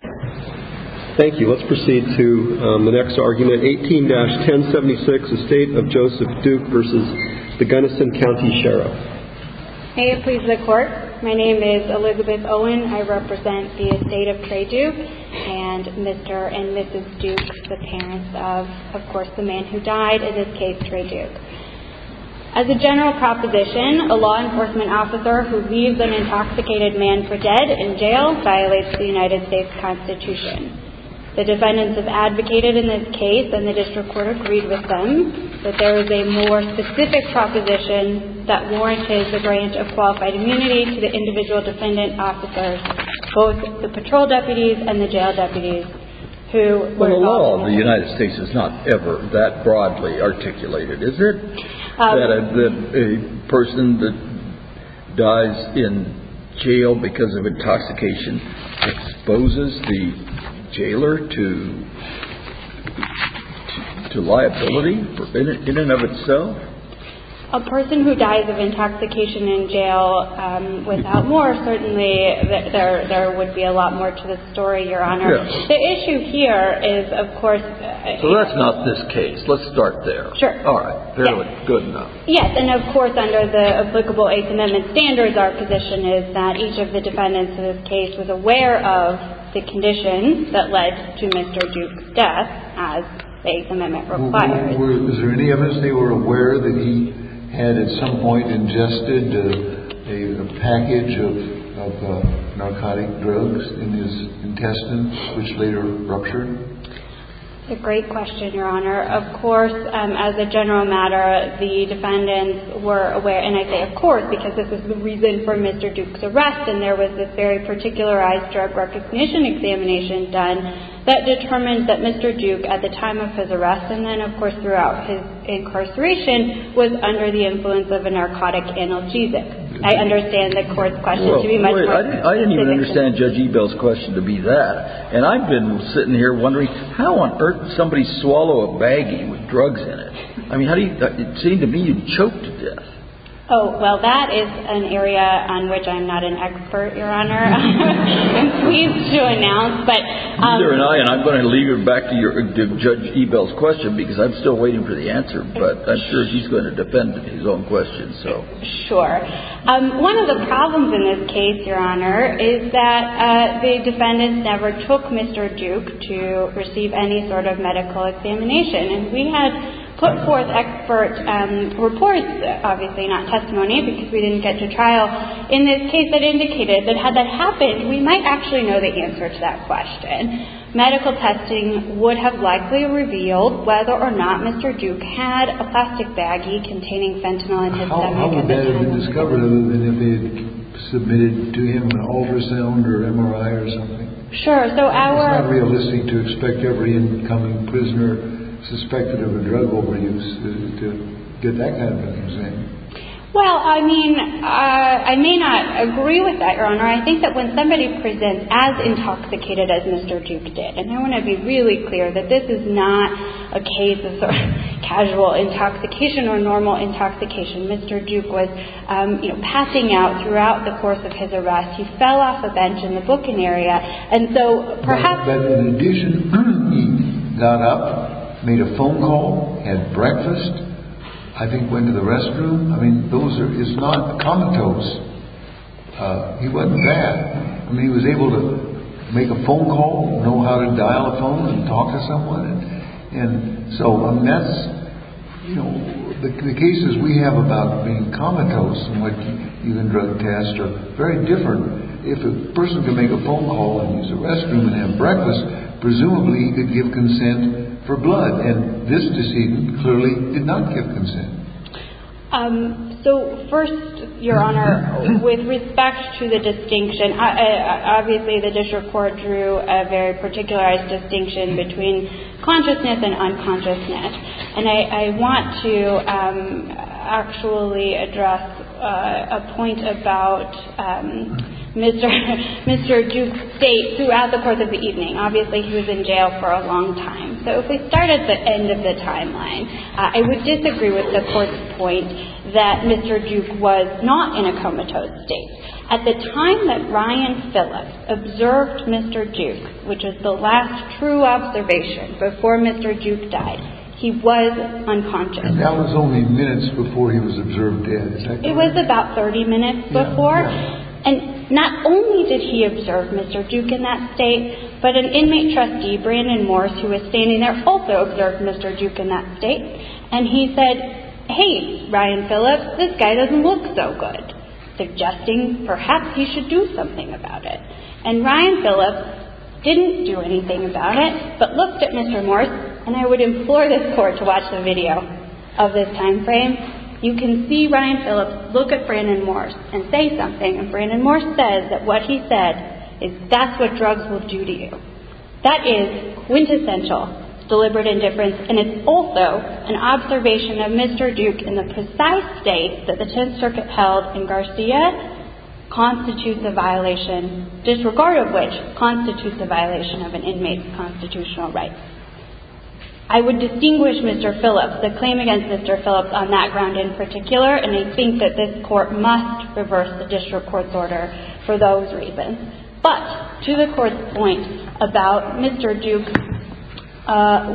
Thank you. Let's proceed to the next argument. 18-1076, Estate of Joseph Duke v. Gunnison County Sheriff May it please the court. My name is Elizabeth Owen. I represent the Estate of Trey Duke and Mr. and Mrs. Duke, the parents of, of course, the man who died, in this case, Trey Duke. As a general proposition, a law enforcement officer who leaves an intoxicated man for dead in jail violates the United States Constitution. The defendants have advocated in this case, and the district court agreed with them, that there is a more specific proposition that warranted the grant of qualified immunity to the individual defendant officers, both the patrol deputies and the jail deputies. Well, the law of the United States is not ever that broadly articulated, is it? That a person that dies in jail because of intoxication exposes the jailer to liability in and of itself? A person who dies of intoxication in jail, without more, certainly, there would be a lot more to this story, Your Honor. The issue here is, of course... So that's not this case. Let's start there. Sure. All right. Fairly good enough. Yes. And, of course, under the applicable Eighth Amendment standards, our position is that each of the defendants in this case was aware of the conditions that led to Mr. Duke's death, as the Eighth Amendment requires. Was there any evidence they were aware that he had at some point ingested a package of narcotic drugs in his intestines, which later ruptured? It's a great question, Your Honor. Of course, as a general matter, the defendants were aware. And I say, of course, because this is the reason for Mr. Duke's arrest. And there was this very particularized drug recognition examination done that determined that Mr. Duke, at the time of his arrest and then, of course, throughout his incarceration, was under the influence of a narcotic analgesic. I understand the Court's question to be much more specific. I didn't even understand Judge Ebell's question to be that. And I've been sitting here wondering, how on earth did somebody swallow a baggie with drugs in it? I mean, how do you – it seemed to me you choked to death. Oh, well, that is an area on which I'm not an expert, Your Honor. I'm pleased to announce. Neither am I. And I'm going to leave it back to Judge Ebell's question, because I'm still waiting for the answer. But I'm sure he's going to defend his own question. Sure. One of the problems in this case, Your Honor, is that the defendants never took Mr. Duke to receive any sort of medical examination. And we had put forth expert reports, obviously not testimony, because we didn't get to trial. In this case, it indicated that had that happened, we might actually know the answer to that question. Medical testing would have likely revealed whether or not Mr. Duke had a plastic baggie containing fentanyl in it. How would that have been discovered other than if they had submitted to him an ultrasound or MRI or something? Sure. So our – Well, I mean, I may not agree with that, Your Honor. I think that when somebody presents as intoxicated as Mr. Duke did – and I want to be really clear that this is not a case of casual intoxication or normal intoxication. Mr. Duke was, you know, passing out throughout the course of his arrest. He fell off a bench in the booking area. And so perhaps – But in addition, he got up, made a phone call, had breakfast, I think went to the restroom. I mean, those are – it's not comatose. He wasn't bad. I mean, he was able to make a phone call, know how to dial a phone and talk to someone. And so, I mean, that's – you know, the cases we have about being comatose and what you can drug test are very different. If a person can make a phone call and use a restroom and have breakfast, presumably he could give consent for blood. And this decedent clearly did not give consent. So first, Your Honor, with respect to the distinction, obviously the district court drew a very particularized distinction between consciousness and unconsciousness. And I want to actually address a point about Mr. Duke's state throughout the course of the evening. Obviously, he was in jail for a long time. So if we start at the end of the timeline, I would disagree with the court's point that Mr. Duke was not in a comatose state. At the time that Ryan Phillips observed Mr. Duke, which is the last true observation before Mr. Duke died, he was unconscious. And that was only minutes before he was observed dead, is that correct? It was about 30 minutes before. And not only did he observe Mr. Duke in that state, but an inmate trustee, Brandon Morse, who was standing there, also observed Mr. Duke in that state. And he said, hey, Ryan Phillips, this guy doesn't look so good, suggesting perhaps he should do something about it. And Ryan Phillips didn't do anything about it, but looked at Mr. Morse. And I would implore this court to watch the video of this time frame. You can see Ryan Phillips look at Brandon Morse and say something. And Brandon Morse says that what he said is, that's what drugs will do to you. That is quintessential deliberate indifference. And it's also an observation of Mr. Duke in the precise state that the Tenth Circuit held in Garcia constitutes a violation, disregard of which constitutes a violation of an inmate's constitutional rights. I would distinguish Mr. Phillips, the claim against Mr. Phillips on that ground in particular, and I think that this court must reverse the district court's order for those reasons. But to the court's point about Mr. Duke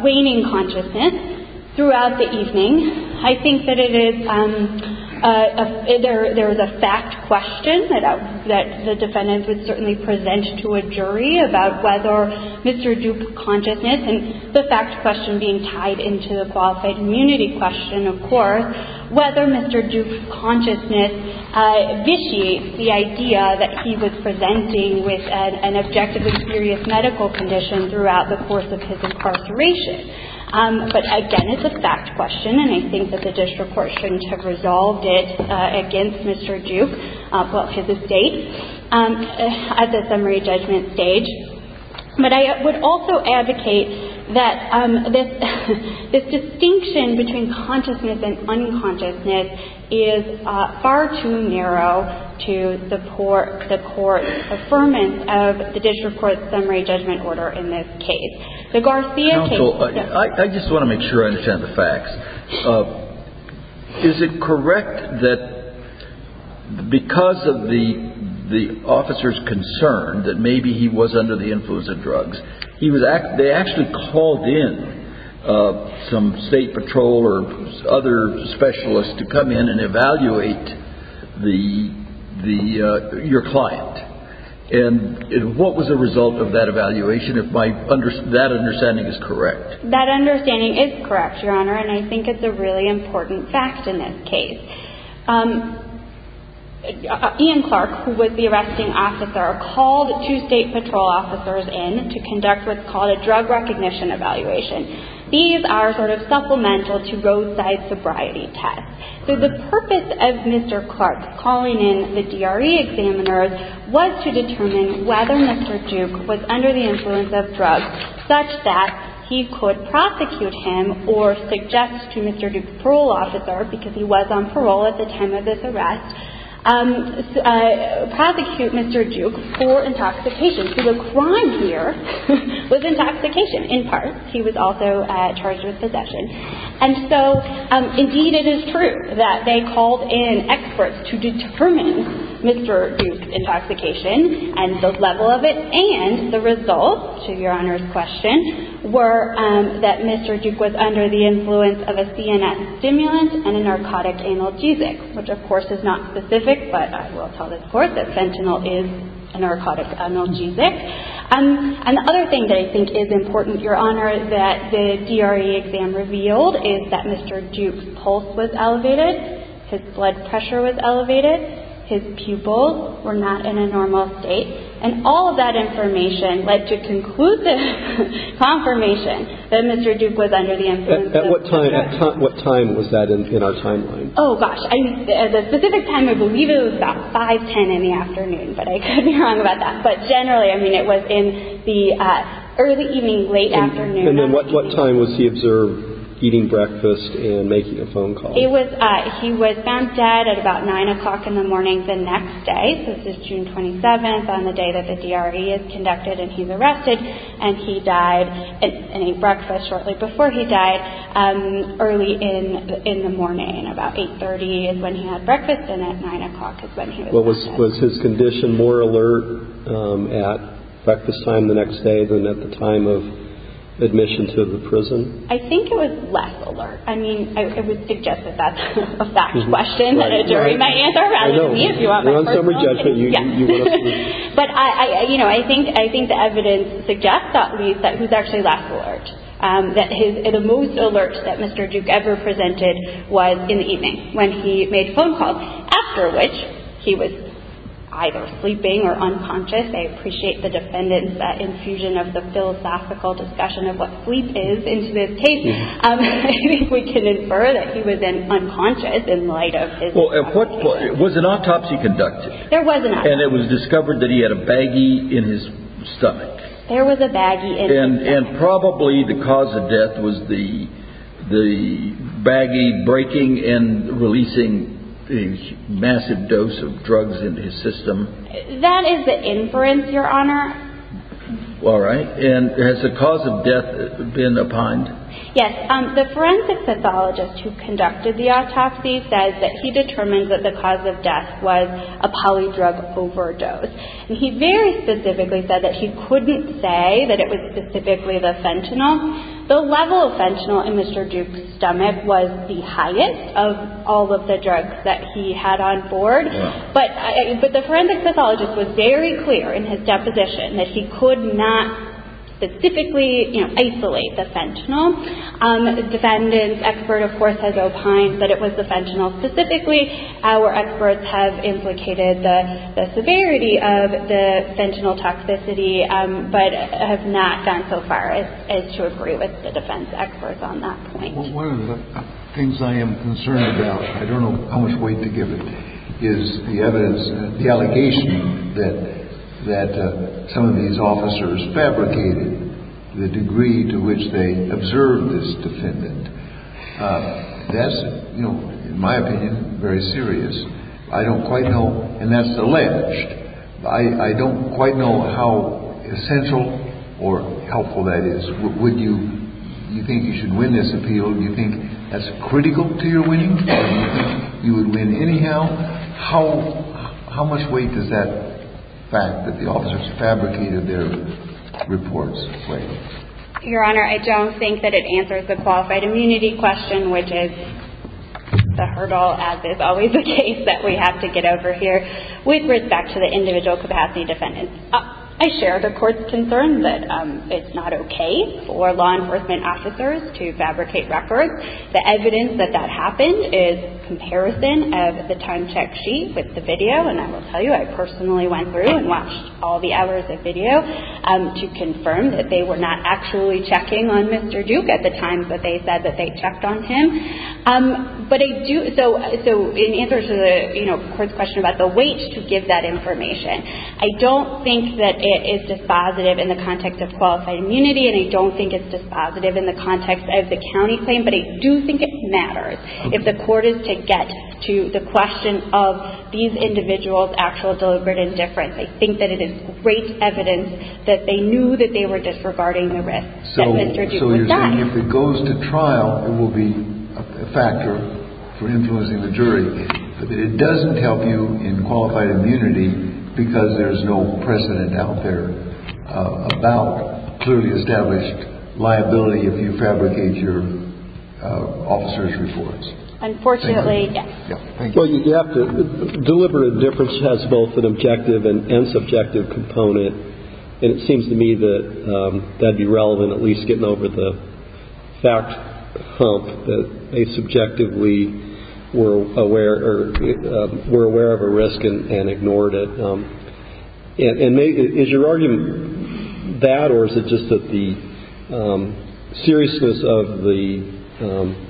waning consciousness throughout the evening, I think that it is a – there is a fact question that the defendants would certainly present to a jury about whether Mr. Duke's consciousness, and the fact question being tied into the qualified immunity question, of course, or whether Mr. Duke's consciousness vitiates the idea that he was presenting with an objectively serious medical condition throughout the course of his incarceration. But again, it's a fact question, and I think that the district court shouldn't have resolved it against Mr. Duke, his estate, at the summary judgment stage. But I would also advocate that this distinction between consciousness and unconsciousness is far too narrow to support the court's affirmance of the district court's summary judgment order in this case. The Garcia case – Counsel, I just want to make sure I understand the facts. Is it correct that because of the officer's concern that maybe he was under the influence of drugs, they actually called in some state patrol or other specialists to come in and evaluate your client? And what was the result of that evaluation, if that understanding is correct? That understanding is correct, Your Honor, and I think it's a really important fact in this case. Ian Clark, who was the arresting officer, called two state patrol officers in to conduct what's called a drug recognition evaluation. These are sort of supplemental to roadside sobriety tests. So the purpose of Mr. Clark calling in the DRE examiners was to determine whether Mr. Duke was under the influence of drugs such that he could prosecute him or suggest to Mr. Duke's parole officer, because he was on parole at the time of this arrest, prosecute Mr. Duke for intoxication. So the crime here was intoxication, in part. He was also charged with possession. And so, indeed, it is true that they called in experts to determine Mr. Duke's intoxication and the level of it and the result, to Your Honor's question, were that Mr. Duke was under the influence of a CNS stimulant and a narcotic analgesic, which, of course, is not specific, but I will tell this court that fentanyl is a narcotic analgesic. And the other thing that I think is important, Your Honor, that the DRE exam revealed is that Mr. Duke's pulse was elevated. His blood pressure was elevated. His pupils were not in a normal state. And all of that information led to conclusive confirmation that Mr. Duke was under the influence of drugs. At what time was that in our timeline? Oh, gosh. At the specific time, I believe it was about 5-10 in the afternoon, but I could be wrong about that. But generally, I mean, it was in the early evening, late afternoon. And then what time was he observed eating breakfast and making a phone call? He was found dead at about 9 o'clock in the morning the next day. So this is June 27th on the day that the DRE is conducted and he's arrested. And he died and ate breakfast shortly before he died early in the morning, about 8.30 is when he had breakfast, Was his condition more alert at breakfast time the next day than at the time of admission to the prison? I think it was less alert. I mean, I would suggest that that's a fact question that a jury might answer rather than me if you want my personal opinion. We're on summary judgment. But, you know, I think the evidence suggests at least that he was actually less alert, that the most alert that Mr. Duke ever presented was in the evening when he made phone calls, after which he was either sleeping or unconscious. I appreciate the defendant's infusion of the philosophical discussion of what sleep is into this case. I think we can infer that he was unconscious in light of his autopsy. Was an autopsy conducted? There was an autopsy. And it was discovered that he had a baggie in his stomach? There was a baggie in his stomach. And probably the cause of death was the baggie breaking and releasing a massive dose of drugs into his system? That is the inference, Your Honor. All right. And has the cause of death been opined? Yes. The forensic pathologist who conducted the autopsy says that he determined that the cause of death was a polydrug overdose. And he very specifically said that he couldn't say that it was specifically the fentanyl. The level of fentanyl in Mr. Duke's stomach was the highest of all of the drugs that he had on board. But the forensic pathologist was very clear in his deposition that he could not specifically, you know, isolate the fentanyl. The defendant's expert, of course, has opined that it was the fentanyl specifically. Our experts have implicated the severity of the fentanyl toxicity, but have not gone so far as to agree with the defense experts on that point. One of the things I am concerned about, I don't know how much weight to give it, is the evidence, the allegation that some of these officers fabricated the degree to which they observed this defendant. That's, you know, in my opinion, very serious. I don't quite know, and that's alleged, I don't quite know how essential or helpful that is. Would you think you should win this appeal? Do you think that's critical to your winning? Do you think you would win anyhow? How much weight does that fact that the officers fabricated their reports weigh? Your Honor, I don't think that it answers the qualified immunity question, which is the hurdle, as is always the case that we have to get over here, with respect to the individual capacity defendants. I share the Court's concern that it's not okay for law enforcement officers to fabricate records. The evidence that that happened is comparison of the time check sheet with the video, and I will tell you, I personally went through and watched all the hours of video to confirm that they were not actually checking on Mr. Duke at the time that they said that they checked on him. But I do, so in answer to the Court's question about the weight to give that information, I don't think that it is dispositive in the context of qualified immunity, and I don't think it's dispositive in the context of the county claim, but I do think it matters. If the Court is to get to the question of these individuals' actual deliberate indifference, I think that it is great evidence that they knew that they were disregarding the risk that Mr. Duke was not. So you're saying if it goes to trial, it will be a factor for influencing the jury, but that it doesn't help you in qualified immunity because there's no precedent out there about clearly established liability if you fabricate your officer's reports. Unfortunately, yes. Well, you have to deliberate indifference has both an objective and subjective component, and it seems to me that that would be relevant, at least getting over the fact hump that they subjectively were aware of a risk and ignored it. And is your argument that, or is it just that the seriousness of the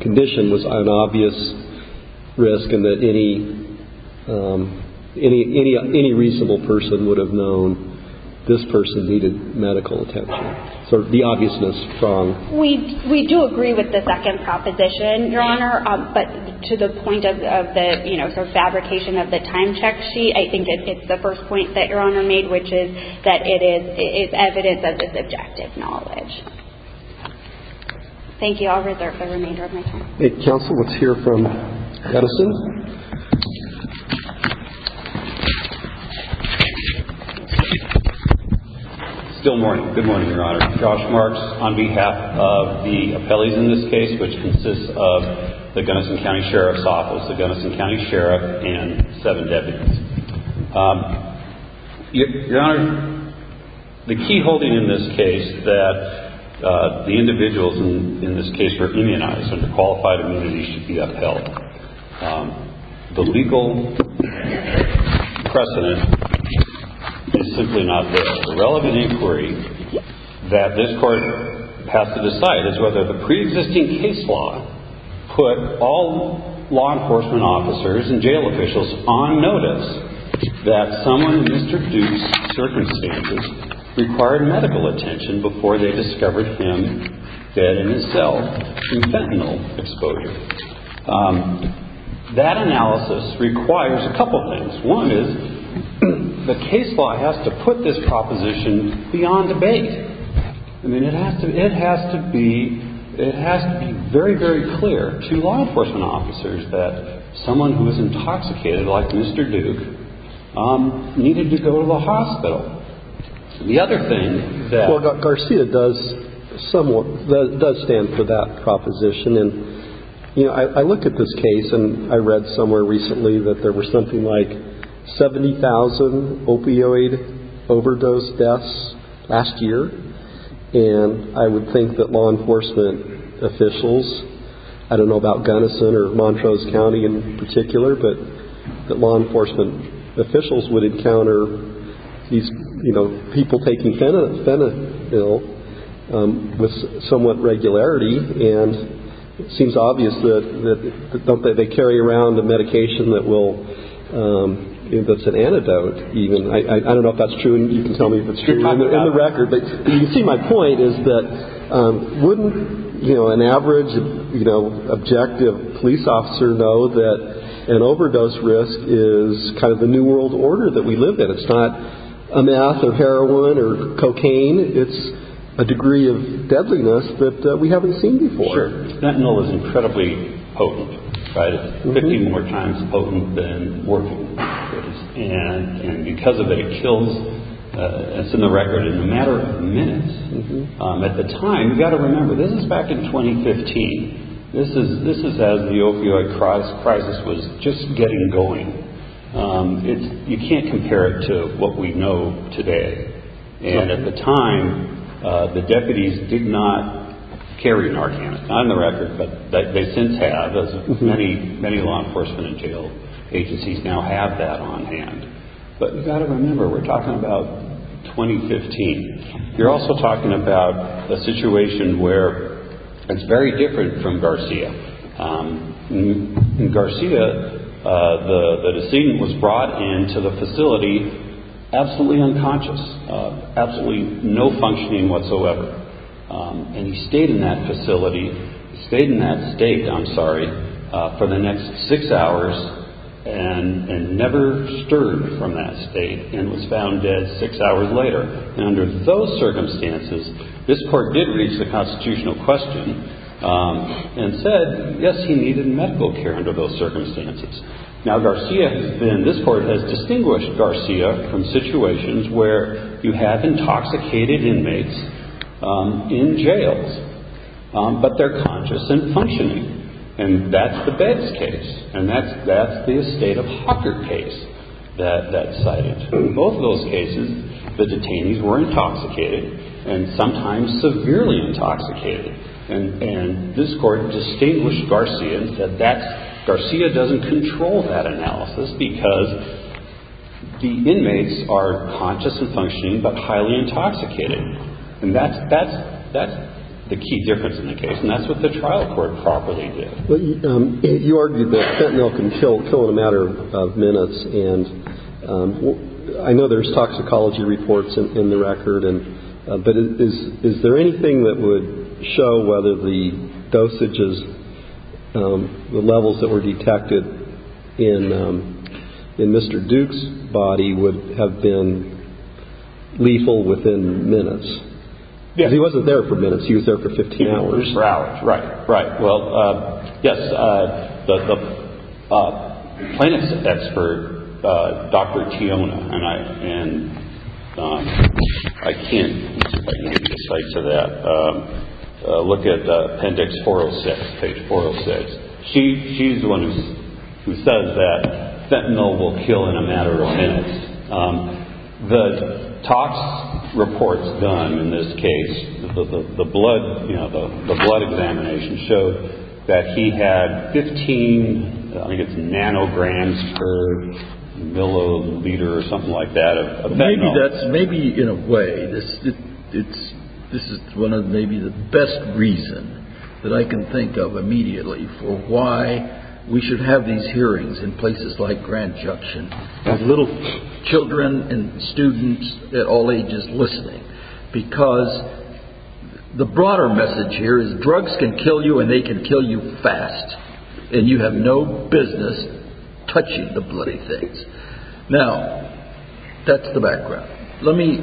condition was an obvious risk and that any reasonable person would have known this person needed medical attention? So the obviousness is strong. We do agree with the second proposition, Your Honor, but to the point of the, you know, fabrication of the time check sheet, I think it's the first point that Your Honor made, which is that it is evidence of the subjective knowledge. Thank you. I'll reserve the remainder of my time. Counsel, let's hear from Edison. Still morning. Good morning, Your Honor. Josh Marks on behalf of the appellees in this case, which consists of the Gunnison County Sheriff's Office, the Gunnison County Sheriff, and seven deputies. Your Honor, the key holding in this case that the individuals in this case were immunized under qualified immunity should be upheld. The legal precedent is simply not there. The relevant inquiry that this Court has to decide is whether the preexisting case law put all law enforcement officers and jail officials on notice that someone in these reduced circumstances required medical attention before they discovered him dead in his cell from fentanyl exposure. That analysis requires a couple of things. One is the case law has to put this proposition beyond debate. I mean, it has to be very, very clear to law enforcement officers that someone who is intoxicated like Mr. Duke needed to go to the hospital. The other thing that- Well, Garcia does somewhat, does stand for that proposition. And, you know, I look at this case and I read somewhere recently that there were something like 70,000 opioid overdose deaths last year. And I would think that law enforcement officials, I don't know about Gunnison or Montrose County in particular, but that law enforcement officials would encounter these, you know, people taking fentanyl with somewhat regularity. And it seems obvious that they carry around a medication that will, that's an antidote even. I don't know if that's true and you can tell me if it's true in the record. But you can see my point is that wouldn't, you know, an average, you know, objective police officer know that an overdose risk is kind of the new world order that we live in. It's not a meth or heroin or cocaine. It's a degree of deadliness that we haven't seen before. Sure. Fentanyl is incredibly potent, right? It's 15 more times potent than morphine overdose. And because of it, it kills, it's in the record, in a matter of minutes. At the time, you've got to remember, this is back in 2015. This is as the opioid crisis was just getting going. It's, you can't compare it to what we know today. And at the time, the deputies did not carry an arcanine. Not in the record, but they since have, as many law enforcement and jail agencies now have that on hand. But you've got to remember, we're talking about 2015. You're also talking about a situation where it's very different from Garcia. In Garcia, the decedent was brought into the facility absolutely unconscious, absolutely no functioning whatsoever. And he stayed in that facility, stayed in that state, I'm sorry, for the next six hours and never stirred from that state and was found dead six hours later. And under those circumstances, this court did reach the constitutional question and said, yes, he needed medical care under those circumstances. Now, Garcia, and this court has distinguished Garcia from situations where you have intoxicated inmates in jails. But they're conscious and functioning. And that's the Betz case. And that's the estate of Hocker case that's cited. In both of those cases, the detainees were intoxicated and sometimes severely intoxicated. And this court distinguished Garcia that Garcia doesn't control that analysis because the inmates are conscious and functioning but highly intoxicated. And that's the key difference in the case. And that's what the trial court properly did. You argued that fentanyl can kill in a matter of minutes. And I know there's toxicology reports in the record. But is there anything that would show whether the dosages, the levels that were detected in Mr. Duke's body would have been lethal within minutes? Because he wasn't there for minutes. He was there for 15 hours. For hours, right. Right. Well, yes, the plaintiff's expert, Dr. Tiona, and I can't give you the sites of that. Look at appendix 406, page 406. She's the one who says that fentanyl will kill in a matter of minutes. The tox reports done in this case, the blood examination, showed that he had 15 nanograms per milliliter or something like that of fentanyl. Maybe in a way this is one of maybe the best reasons that I can think of immediately for why we should have these hearings in places like Grant Junction. With little children and students at all ages listening. Because the broader message here is drugs can kill you and they can kill you fast. And you have no business touching the bloody things. Now, that's the background. Let me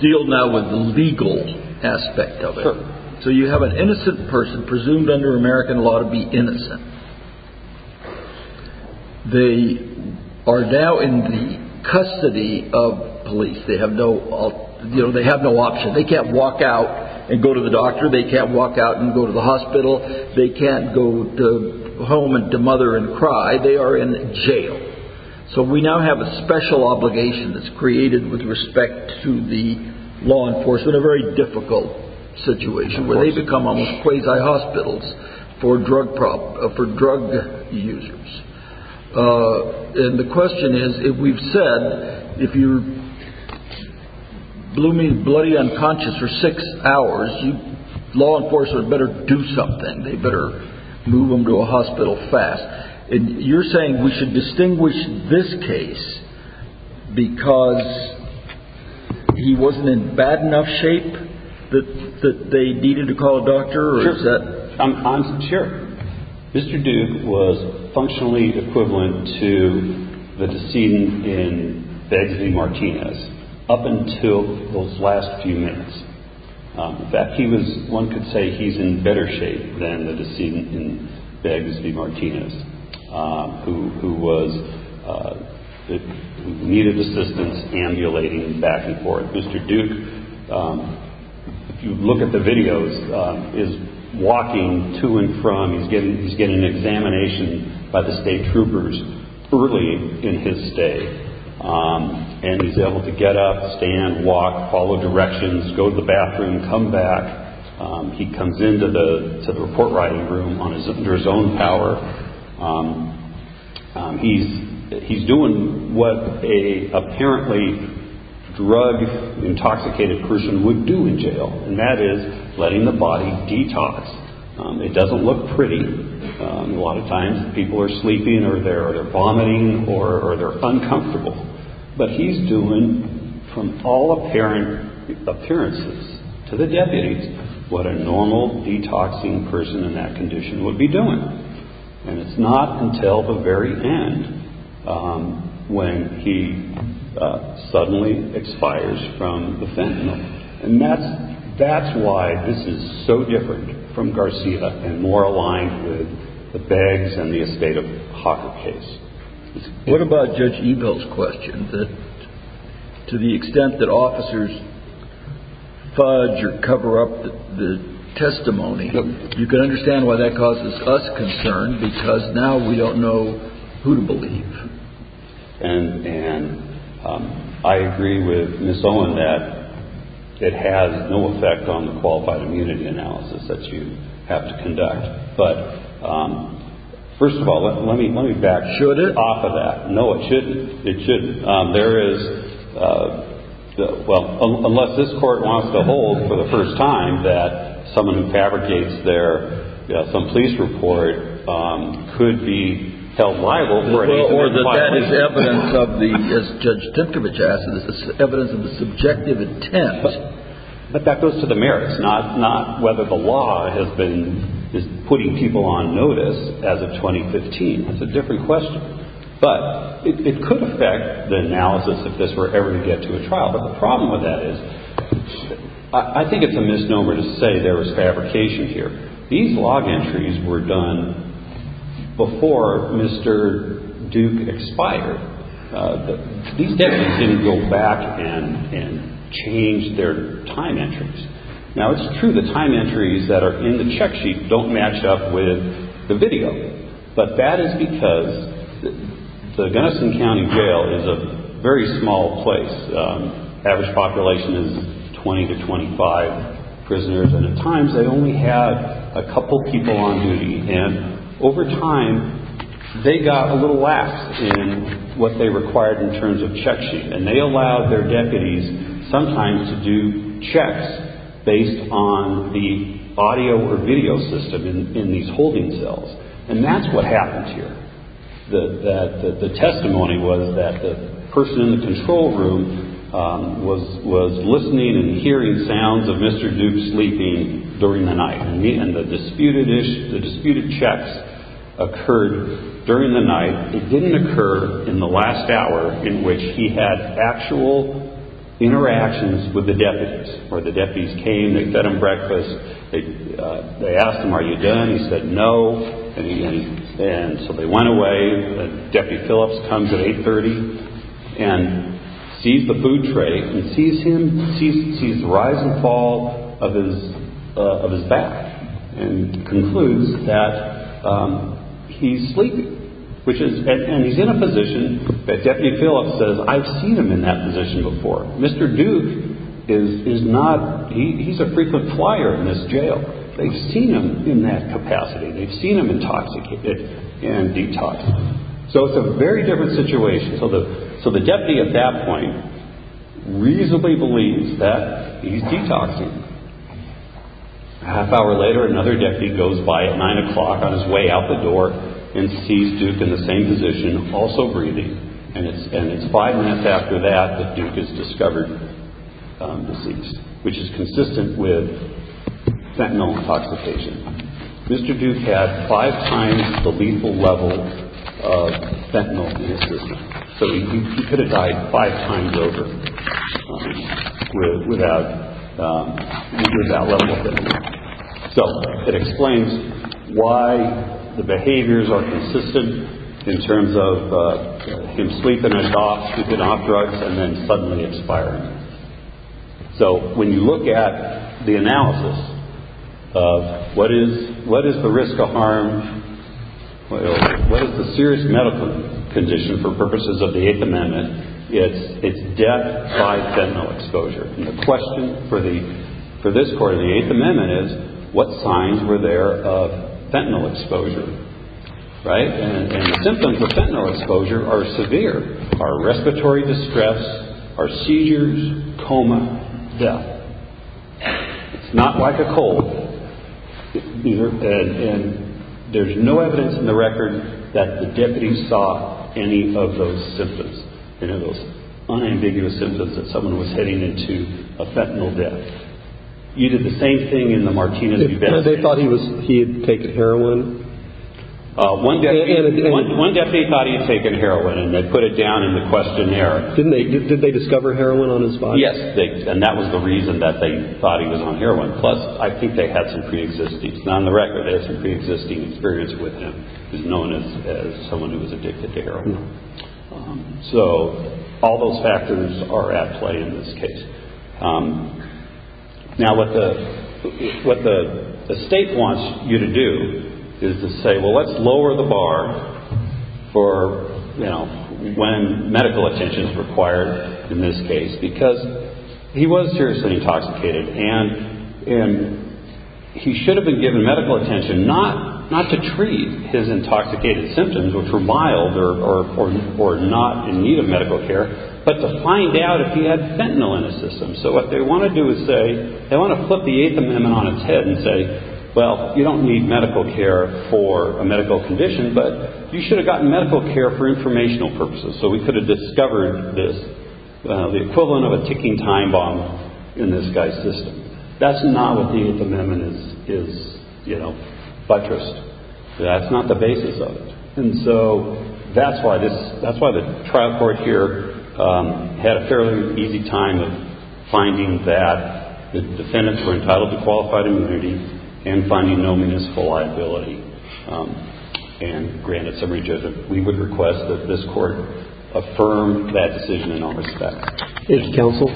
deal now with the legal aspect of it. So you have an innocent person, presumed under American law to be innocent. They are now in the custody of police. They have no option. They can't walk out and go to the doctor. They can't walk out and go to the hospital. They can't go home and demother and cry. They are in jail. So we now have a special obligation that's created with respect to the law enforcement, where they become quasi-hospitals for drug users. And the question is, if we've said, if you're blooming bloody unconscious for six hours, law enforcement better do something. They better move them to a hospital fast. You're saying we should distinguish this case because he wasn't in bad enough shape that they needed to call a doctor? Sure. Mr. Duke was functionally equivalent to the decedent in Beggs v. Martinez up until those last few minutes. In fact, one could say he's in better shape than the decedent in Beggs v. Martinez, who needed assistance ambulating him back and forth. Mr. Duke, if you look at the videos, is walking to and from. He's getting an examination by the state troopers early in his stay. And he's able to get up, stand, walk, follow directions, go to the bathroom, come back. He comes into the report-writing room under his own power. He's doing what an apparently drug-intoxicated person would do in jail, and that is letting the body detox. It doesn't look pretty. A lot of times people are sleeping or they're vomiting or they're uncomfortable. But he's doing, from all apparent appearances to the deputies, what a normal detoxing person in that condition would be doing. And it's not until the very end when he suddenly expires from the fentanyl. And that's why this is so different from Garcia and more aligned with the Beggs and the estate of Hawker case. What about Judge Ebel's question that to the extent that officers fudge or cover up the testimony, you can understand why that causes us concern because now we don't know who to believe. And I agree with Ms. Owen that it has no effect on the qualified immunity analysis that you have to conduct. But first of all, let me back off of that. Should it? No, it shouldn't. It shouldn't. There is, well, unless this court wants to hold for the first time that someone who fabricates their police report could be held liable. Or that that is evidence of the, as Judge Dimkovich asked, is evidence of the subjective intent. But that goes to the merits, not whether the law has been putting people on notice as of 2015. It's a different question. But it could affect the analysis if this were ever to get to a trial. But the problem with that is I think it's a misnomer to say there was fabrication here. These log entries were done before Mr. Duke expired. These deputies didn't go back and change their time entries. Now, it's true the time entries that are in the check sheet don't match up with the video. But that is because the Gunnison County Jail is a very small place. Average population is 20 to 25 prisoners. And at times they only have a couple people on duty. And over time, they got a little lax in what they required in terms of check sheet. And they allowed their deputies sometimes to do checks based on the audio or video system in these holding cells. And that's what happened here. The testimony was that the person in the control room was listening and hearing sounds of Mr. Duke sleeping during the night. And the disputed checks occurred during the night. It didn't occur in the last hour in which he had actual interactions with the deputies. Where the deputies came, they fed him breakfast. They asked him, are you done? He said no. And so they went away. Deputy Phillips comes at 830 and sees the food tray and sees him, sees the rise and fall of his back. And concludes that he's sleeping. And he's in a position that Deputy Phillips says, I've seen him in that position before. Mr. Duke is not, he's a frequent flyer in this jail. They've seen him in that capacity. They've seen him intoxicated and detoxed. So it's a very different situation. So the deputy at that point reasonably believes that he's detoxing. A half hour later, another deputy goes by at 9 o'clock on his way out the door and sees Duke in the same position, also breathing. And it's five minutes after that that Duke is discovered deceased, which is consistent with fentanyl intoxication. Mr. Duke had five times the lethal level of fentanyl in his system. So he could have died five times over without lethal level of fentanyl. So it explains why the behaviors are consistent in terms of him sleeping, he's off drugs, and then suddenly expiring. So when you look at the analysis of what is the risk of harm, what is the serious medical condition for purposes of the Eighth Amendment, it's death by fentanyl exposure. And the question for this Court of the Eighth Amendment is, what signs were there of fentanyl exposure? And the symptoms of fentanyl exposure are severe, are respiratory distress, are seizures, coma, death. It's not like a cold, either. And there's no evidence in the record that the deputy saw any of those symptoms, any of those unambiguous symptoms that someone was heading into a fentanyl death. You did the same thing in the Martinez-Bubetz case. They thought he had taken heroin? One deputy thought he had taken heroin, and they put it down in the questionnaire. Did they discover heroin on his body? Yes, and that was the reason that they thought he was on heroin. Plus, I think they had some pre-existing. It's not in the record, but they had some pre-existing experience with him. He's known as someone who was addicted to heroin. So all those factors are at play in this case. Now, what the state wants you to do is to say, well, let's lower the bar for when medical attention is required in this case, because he was seriously intoxicated, and he should have been given medical attention not to treat his intoxicated symptoms, which were mild or not in need of medical care, but to find out if he had fentanyl in his system. So what they want to do is say, they want to flip the Eighth Amendment on its head and say, well, you don't need medical care for a medical condition, but you should have gotten medical care for informational purposes, so we could have discovered this, the equivalent of a ticking time bomb in this guy's system. That's not what the Eighth Amendment is buttressed. That's not the basis of it. And so that's why the trial court here had a fairly easy time of finding that the defendants were entitled to qualified immunity and finding no municipal liability. And granted, we would request that this court affirm that decision in all respects. Thank you, counsel.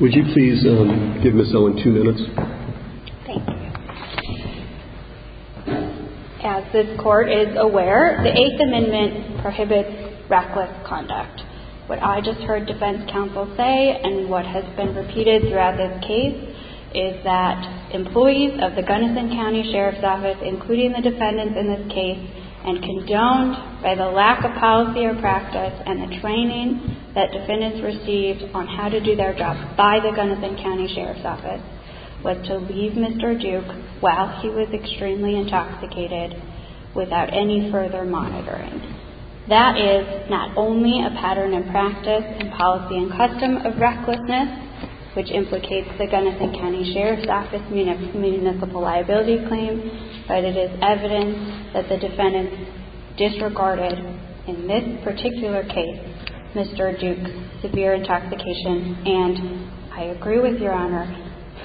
Would you please give Ms. Owen two minutes? Thank you. As this court is aware, the Eighth Amendment prohibits reckless conduct. What I just heard defense counsel say and what has been repeated throughout this case is that employees of the Gunnison County Sheriff's Office, including the defendants in this case, and condoned by the lack of policy or practice and the training that defendants received on how to do their job by the Gunnison County Sheriff's Office, was to leave Mr. Duke while he was extremely intoxicated without any further monitoring. That is not only a pattern in practice and policy and custom of recklessness, which implicates the Gunnison County Sheriff's Office municipal liability claim, but it is evidence that the defendants disregarded, in this particular case, Mr. Duke's severe intoxication. And I agree with Your Honor.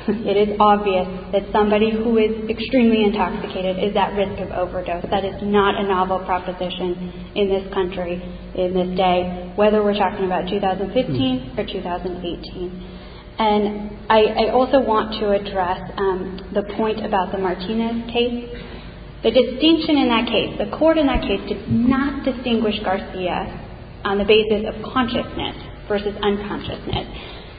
It is obvious that somebody who is extremely intoxicated is at risk of overdose. That is not a novel proposition in this country in this day, whether we're talking about 2015 or 2018. And I also want to address the point about the Martinez case. The distinction in that case, the court in that case, did not distinguish Garcia on the basis of consciousness versus unconsciousness.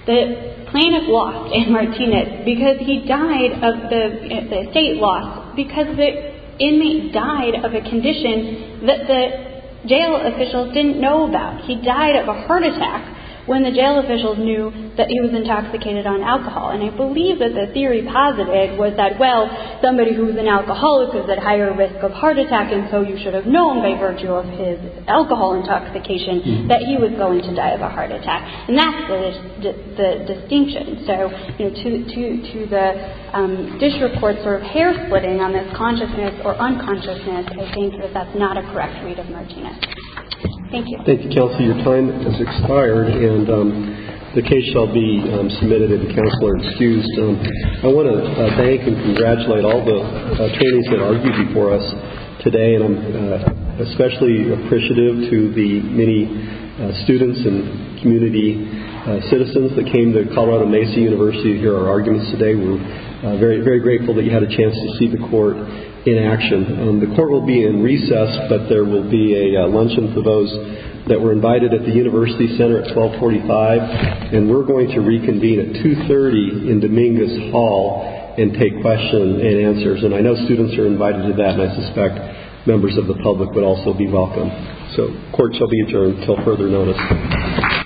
The plaintiff lost in Martinez because he died of the state loss because the inmate died of a condition that the jail officials didn't know about. He died of a heart attack when the jail officials knew that he was intoxicated on alcohol. And I believe that the theory posited was that, well, somebody who is an alcoholic is at higher risk of heart attack, and so you should have known by virtue of his alcohol intoxication that he was going to die of a heart attack. And that's the distinction. So, you know, to the dish report sort of hair-splitting on this consciousness or unconsciousness, I think that that's not a correct read of Martinez. Thank you. Thank you, Counselor. Your time has expired, and the case shall be submitted to the Counselor-Excused. I want to thank and congratulate all the attorneys that argued before us today, and I'm especially appreciative to the many students and community citizens that came to Colorado Macy University to hear our arguments today. We're very, very grateful that you had a chance to see the court in action. The court will be in recess, but there will be a luncheon for those that were invited at the University Center at 1245, and we're going to reconvene at 2.30 in Dominguez Hall and take questions and answers. And I know students are invited to that, and I suspect members of the public would also be welcome. So court shall be adjourned until further notice.